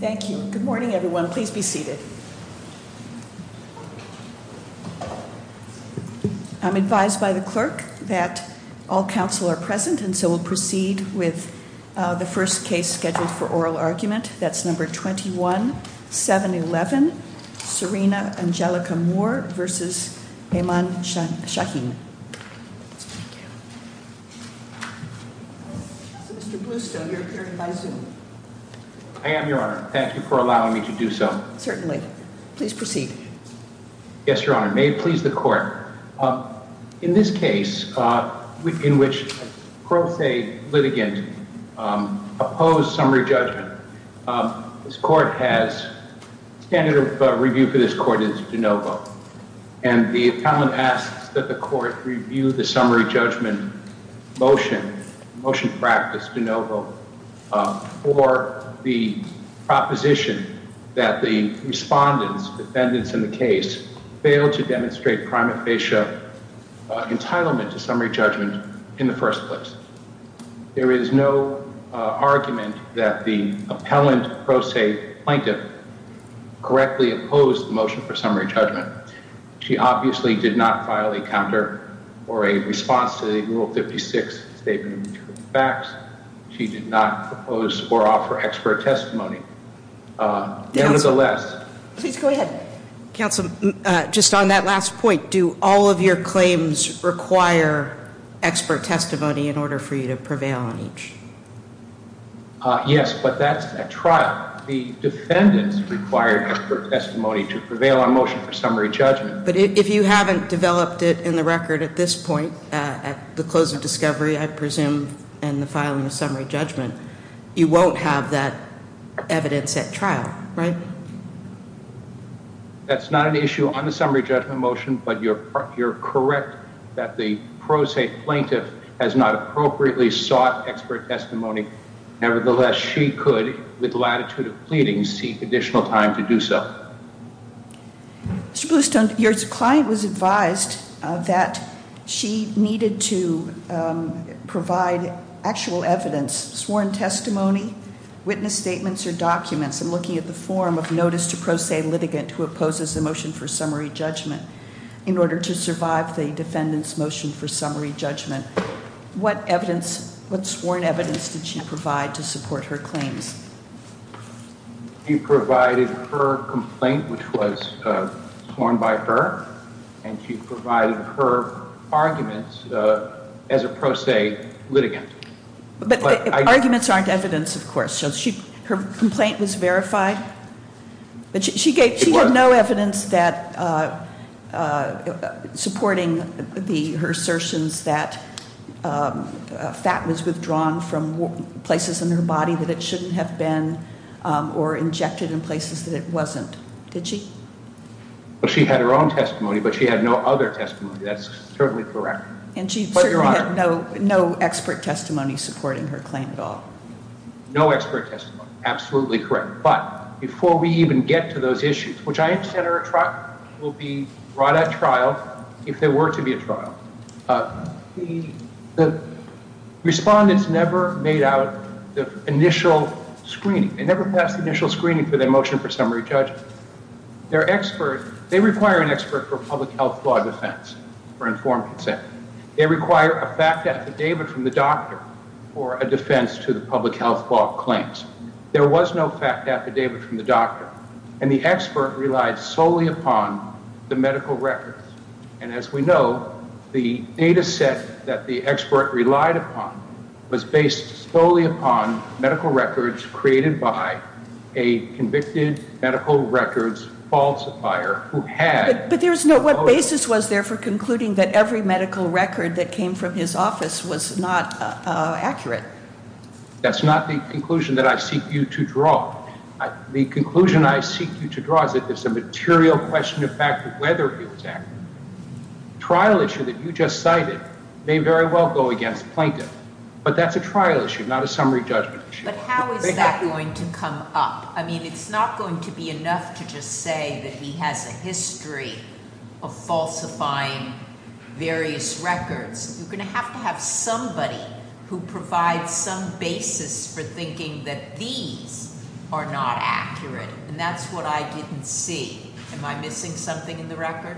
Thank you. Good morning, everyone. Please be seated. I'm advised by the clerk that all counsel are present and so we'll proceed with the first case scheduled for oral argument. That's number 21 7 11 Serena Angelica more versus a man. Shocking. I am your honor. Thank you for allowing me to do so. Certainly. Please proceed. Yes, your honor. May it please the court in this case in which a litigant opposed summary judgment. This court has standard of review for this court is to know. And the talent asks that the court review the summary judgment motion motion practice to know or the proposition that the respondents and it's in the case. And that the defendant. Entitlement to summary judgment in the first place. There is no argument that the appellant I'm just on that last point. Do all of your claims require expert testimony in order for you to prevail on each? Yes, but that's a trial. The defendants required for testimony to prevail on motion for summary judgment. But if you haven't developed it in the record at this point, at the close of discovery, I presume, and the filing of summary judgment, You won't have that evidence at trial, right? That's not an issue on the summary judgment motion, but you're correct that the pro se plaintiff has not appropriately sought expert testimony. Nevertheless, she could, with latitude of pleading, seek additional time to do so. Your client was advised that she needed to provide actual evidence. Sworn testimony, witness statements or documents and looking at the form of notice to pro se litigant who opposes the motion for summary judgment. In order to survive the defendants motion for summary judgment. What evidence? What sworn evidence did she provide to support her claims? You provided her complaint, which was sworn by her. And she provided her arguments as a pro se litigant. But arguments aren't evidence, of course. So she her complaint was verified. She gave no evidence that supporting her assertions that fat was withdrawn from places in her body that it shouldn't have been or injected in places that it wasn't. Did she? She had her own testimony, but she had no other testimony. That's certainly correct. And she had no expert testimony supporting her claim at all. No expert testimony. Absolutely correct. But before we even get to those issues, which I understand will be brought at trial if there were to be a trial. The respondents never made out the initial screening. They never passed the initial screening for their motion for summary judgment. They're experts. They require an expert for public health law defense for informed consent. They require a fact affidavit from the doctor or a defense to the public health law claims. There was no fact affidavit from the doctor and the expert relied solely upon the medical records. And as we know, the data set that the expert relied upon was based solely upon medical records created by a convicted medical records falsifier who had. But there is no basis was there for concluding that every medical record that came from his office was not accurate. That's not the conclusion that I seek you to draw. The conclusion I seek you to draw is that there's a material question of fact, whether it was a trial issue that you just cited may very well go against plaintiff. But that's a trial issue, not a summary judgment. But how is that going to come up? I mean, it's not going to be enough to just say that he has a history of falsifying various records. You're going to have to have somebody who provides some basis for thinking that these are not accurate. And that's what I didn't see. Am I missing something in the record?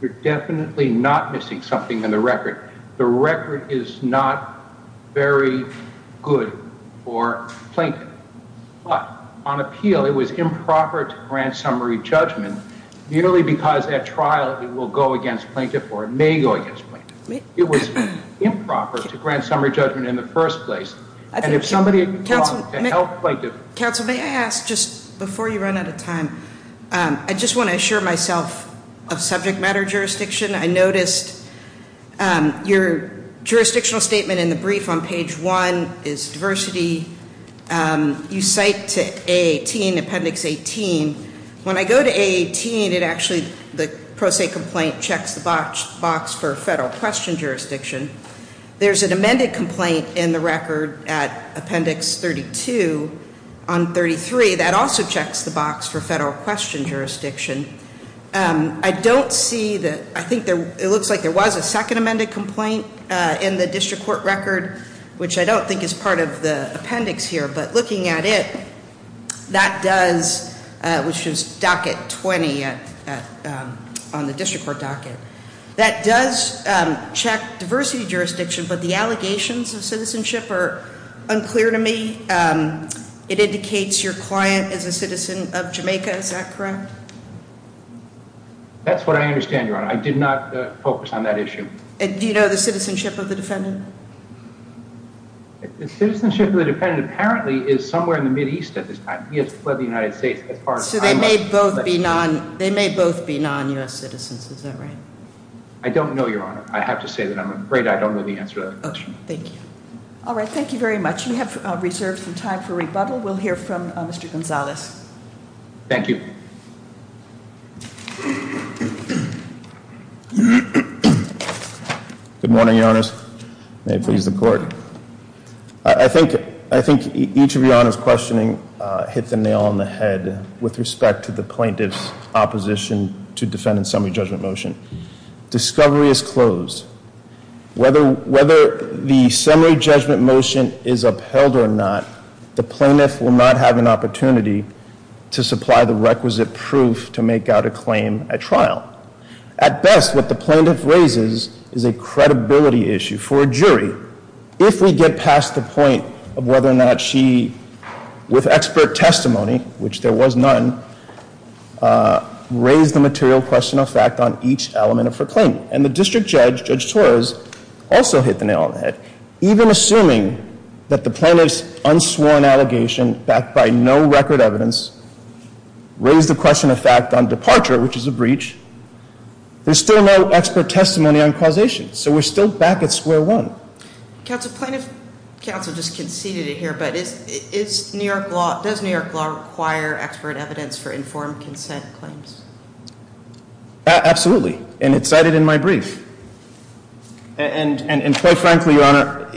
You're definitely not missing something in the record. The record is not very good for plaintiff. But on appeal, it was improper to grant summary judgment merely because at trial it will go against plaintiff or may go against plaintiff. It was improper to grant summary judgment in the first place. And if somebody had gone to help plaintiff. Counsel, may I ask, just before you run out of time, I just want to assure myself of subject matter jurisdiction. I noticed your jurisdictional statement in the brief on page one is diversity. You cite to A18, appendix 18. When I go to A18, it actually, the pro se complaint checks the box for federal question jurisdiction. There's an amended complaint in the record at appendix 32 on 33. That also checks the box for federal question jurisdiction. I don't see that, I think it looks like there was a second amended complaint in the district court record. Which I don't think is part of the appendix here. But looking at it, that does, which is docket 20 on the district court docket. That does check diversity jurisdiction. But the allegations of citizenship are unclear to me. It indicates your client is a citizen of Jamaica. Is that correct? That's what I understand, Your Honor. I did not focus on that issue. Do you know the citizenship of the defendant? The citizenship of the defendant apparently is somewhere in the Mideast at this time. He has fled the United States as far as I know. So they may both be non-U.S. citizens, is that right? I don't know, Your Honor. I have to say that I'm afraid I don't know the answer to that question. Okay, thank you. All right, thank you very much. We have reserved some time for rebuttal. We'll hear from Mr. Gonzalez. Thank you. Good morning, Your Honor. May it please the court. I think each of Your Honor's questioning hit the nail on the head with respect to the plaintiff's opposition to defendant's summary judgment motion. Discovery is closed. Whether the summary judgment motion is upheld or not, the plaintiff will not have an opportunity to supply the requisite proof to make out a claim at trial. At best, what the plaintiff raises is a credibility issue for a jury. If we get past the point of whether or not she, with expert testimony, which there was none, raised the material question of fact on each element of her claim. And the district judge, Judge Torres, also hit the nail on the head. Even assuming that the plaintiff's unsworn allegation, backed by no record evidence, raised the question of fact on departure, which is a breach, there's still no expert testimony on causation. So we're still back at square one. Counsel, plaintiff counsel just conceded it here, but does New York law require expert evidence for informed consent claims? Absolutely. And it's cited in my brief. And quite frankly, Your Honor,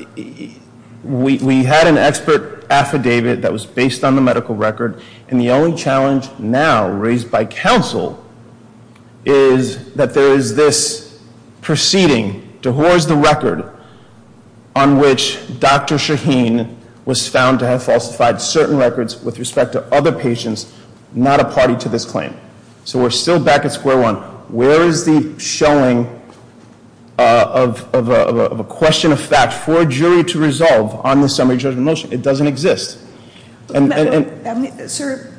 we had an expert affidavit that was based on the medical record, and the only challenge now raised by counsel is that there is this proceeding to whores the record on which Dr. Shaheen was found to have falsified certain records with respect to other patients, not a party to this claim. So we're still back at square one. Where is the showing of a question of fact for a jury to resolve on the summary judgment motion? It doesn't exist. And- Sir,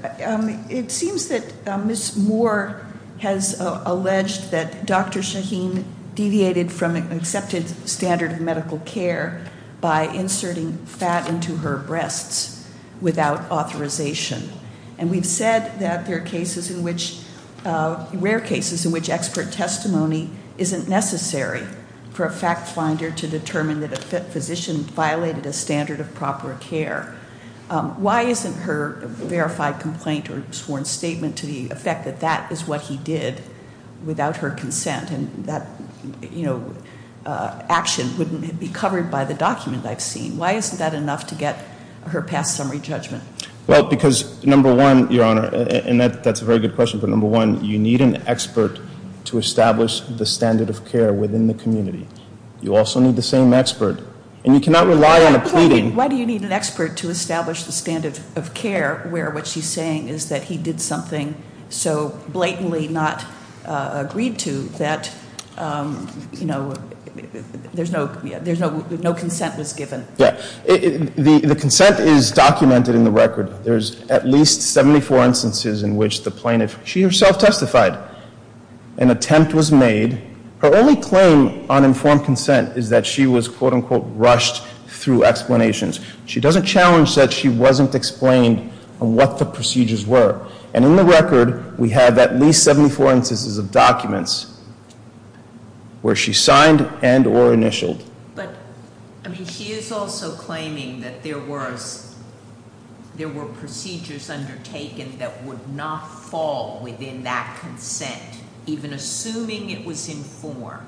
it seems that Ms. Moore has alleged that Dr. Shaheen deviated from an accepted standard of medical care by inserting fat into her breasts without authorization. And we've said that there are rare cases in which expert testimony isn't necessary for a fact finder to determine that a physician violated a standard of proper care. Why isn't her verified complaint or sworn statement to the effect that that is what he did without her consent? And that action wouldn't be covered by the document I've seen. Why isn't that enough to get her past summary judgment? Well, because number one, your honor, and that's a very good question, but number one, you need an expert to establish the standard of care within the community. You also need the same expert. And you cannot rely on a pleading- Why do you need an expert to establish the standard of care where what she's saying is that he did something so blatantly not agreed to that, you know, there's no, there's no, no consent was given. Yeah, the consent is documented in the record. There's at least 74 instances in which the plaintiff, she herself testified, an attempt was made. Her only claim on informed consent is that she was, quote unquote, rushed through explanations. She doesn't challenge that she wasn't explained on what the procedures were. And in the record, we have at least 74 instances of documents where she signed and or initialed. But, I mean, she is also claiming that there was, there were procedures undertaken that would not fall within that consent. Even assuming it was informed,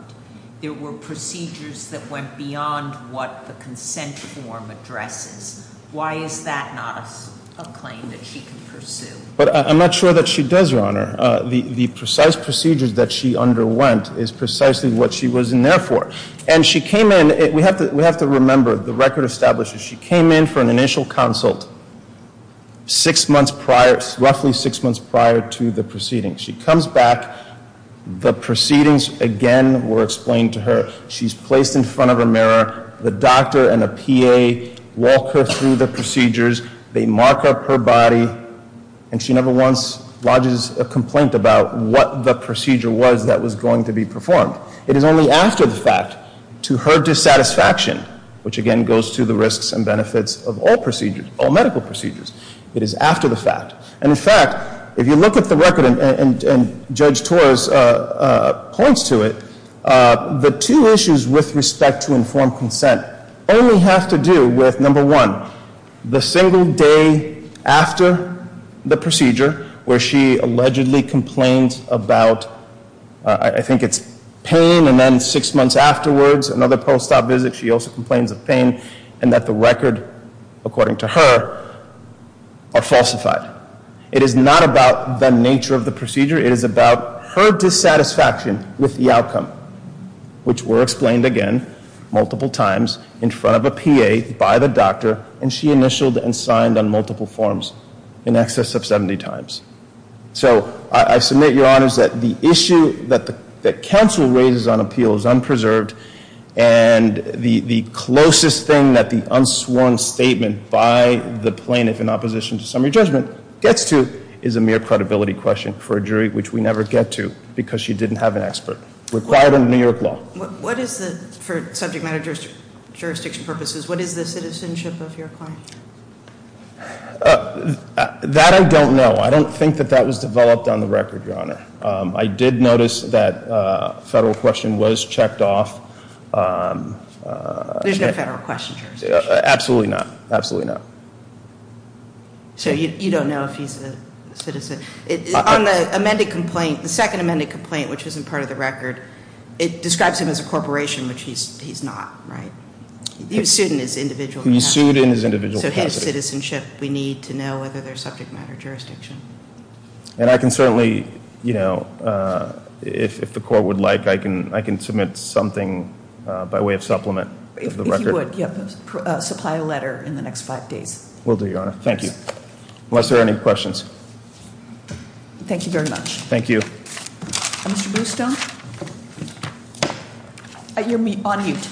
there were procedures that went beyond what the consent form addresses. Why is that not a claim that she can pursue? But I'm not sure that she does, your honor. The precise procedures that she underwent is precisely what she was in there for. And she came in, we have to remember, the record establishes she came in for an initial consult six months prior, roughly six months prior to the proceedings. She comes back. The proceedings, again, were explained to her. She's placed in front of a mirror. The doctor and a PA walk her through the procedures. They mark up her body. And she never once lodges a complaint about what the procedure was that was going to be performed. It is only after the fact to her dissatisfaction, which, again, goes to the risks and benefits of all procedures, all medical procedures. It is after the fact. And, in fact, if you look at the record and Judge Torres points to it, the two issues with respect to informed consent only have to do with, number one, the single day after the procedure where she allegedly complains about, I think it's pain, and then six months afterwards, another post-op visit, she also complains of pain, and that the record, according to her, are falsified. It is not about the nature of the procedure. It is about her dissatisfaction with the outcome, which were explained, again, multiple times in front of a PA by the doctor, and she initialed and signed on multiple forms in excess of 70 times. So I submit, Your Honors, that the issue that counsel raises on appeal is unpreserved, and the closest thing that the unsworn statement by the plaintiff in opposition to summary judgment gets to is a mere credibility question for a jury, which we never get to because she didn't have an expert. Required under New York law. What is the, for subject matter jurisdiction purposes, what is the citizenship of your client? That I don't know. I don't think that that was developed on the record, Your Honor. I did notice that a federal question was checked off. There's no federal question jurisdiction. Absolutely not. Absolutely not. So you don't know if he's a citizen. On the amended complaint, the second amended complaint, which isn't part of the record, it describes him as a corporation, which he's not, right? He was sued in his individual capacity. He was sued in his individual capacity. So his citizenship, we need to know whether there's subject matter jurisdiction. And I can certainly, you know, if the court would like, I can submit something by way of supplement of the record. If you would, yeah, supply a letter in the next five days. Will do, Your Honor. Thank you. Unless there are any questions. Thank you very much. Thank you. Mr. Bluestone? You're on mute.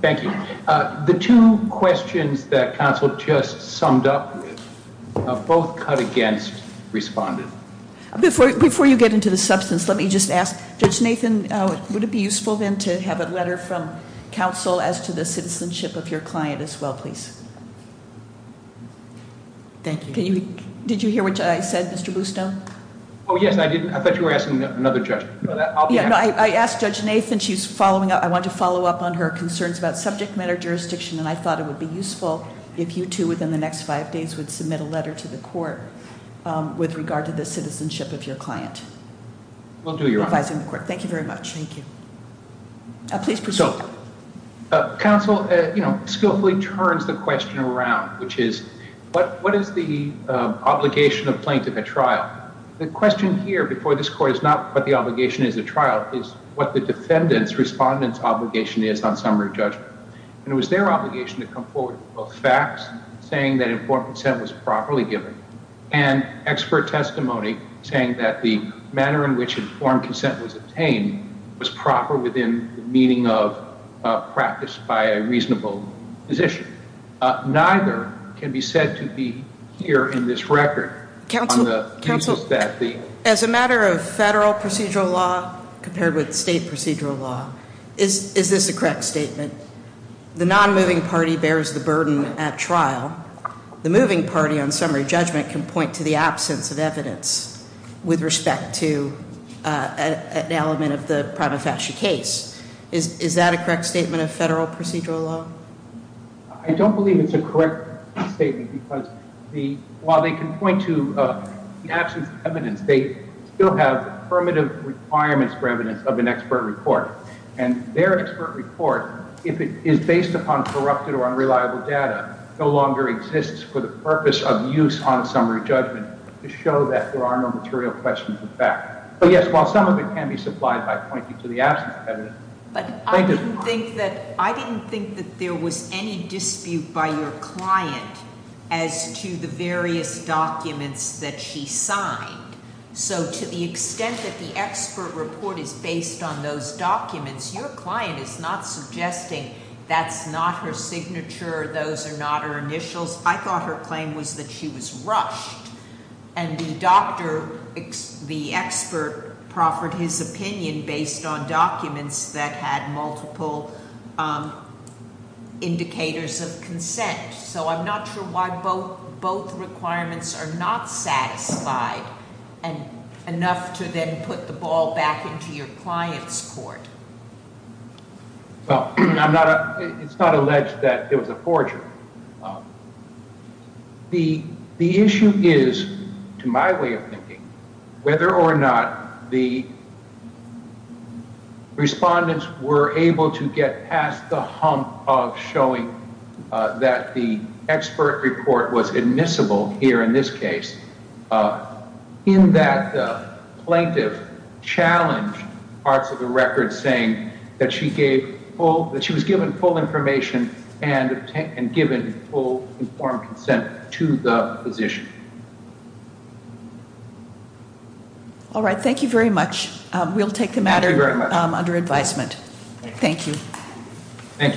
Thank you. The two questions that counsel just summed up, both cut against responded. Before you get into the substance, let me just ask, Judge Nathan, would it be useful then to have a letter from counsel as to the citizenship of your client as well, please? Thank you. Did you hear what I said, Mr. Bluestone? Oh, yes, I did. I thought you were asking another judge. I asked Judge Nathan. She's following up. I want to follow up on her concerns about subject matter jurisdiction. And I thought it would be useful if you two within the next five days would submit a letter to the court with regard to the citizenship of your client. Will do, Your Honor. Thank you very much. Thank you. Please proceed. So, counsel, you know, skillfully turns the question around, which is what is the obligation of plaintiff at trial? The question here before this court is not what the obligation is at trial. It's what the defendant's, respondent's obligation is on summary judgment. And it was their obligation to come forward with both facts saying that informed consent was properly given and expert testimony saying that the manner in which informed consent was obtained was proper within the meaning of practice by a reasonable position. Neither can be said to be here in this record. Counsel, as a matter of federal procedural law compared with state procedural law, is this a correct statement? The non-moving party bears the burden at trial. The moving party on summary judgment can point to the absence of evidence with respect to an element of the prima facie case. Is that a correct statement of federal procedural law? I don't believe it's a correct statement because while they can point to the absence of evidence, they still have affirmative requirements for evidence of an expert report. And their expert report, if it is based upon corrupted or unreliable data, no longer exists for the purpose of use on summary judgment to show that there are no material questions of fact. But, yes, while some of it can be supplied by pointing to the absence of evidence. But I didn't think that there was any dispute by your client as to the various documents that she signed. So to the extent that the expert report is based on those documents, your client is not suggesting that's not her signature, those are not her initials. I thought her claim was that she was rushed. And the doctor, the expert, proffered his opinion based on documents that had multiple indicators of consent. So I'm not sure why both requirements are not satisfied enough to then put the ball back into your client's court. Well, it's not alleged that it was a forgery. The issue is, to my way of thinking, whether or not the respondents were able to get past the hump of showing that the expert report was admissible here in this case in that the plaintiff challenged parts of the record saying that she was given full information and given full informed consent to the position. All right, thank you very much. We'll take the matter under advisement. Thank you.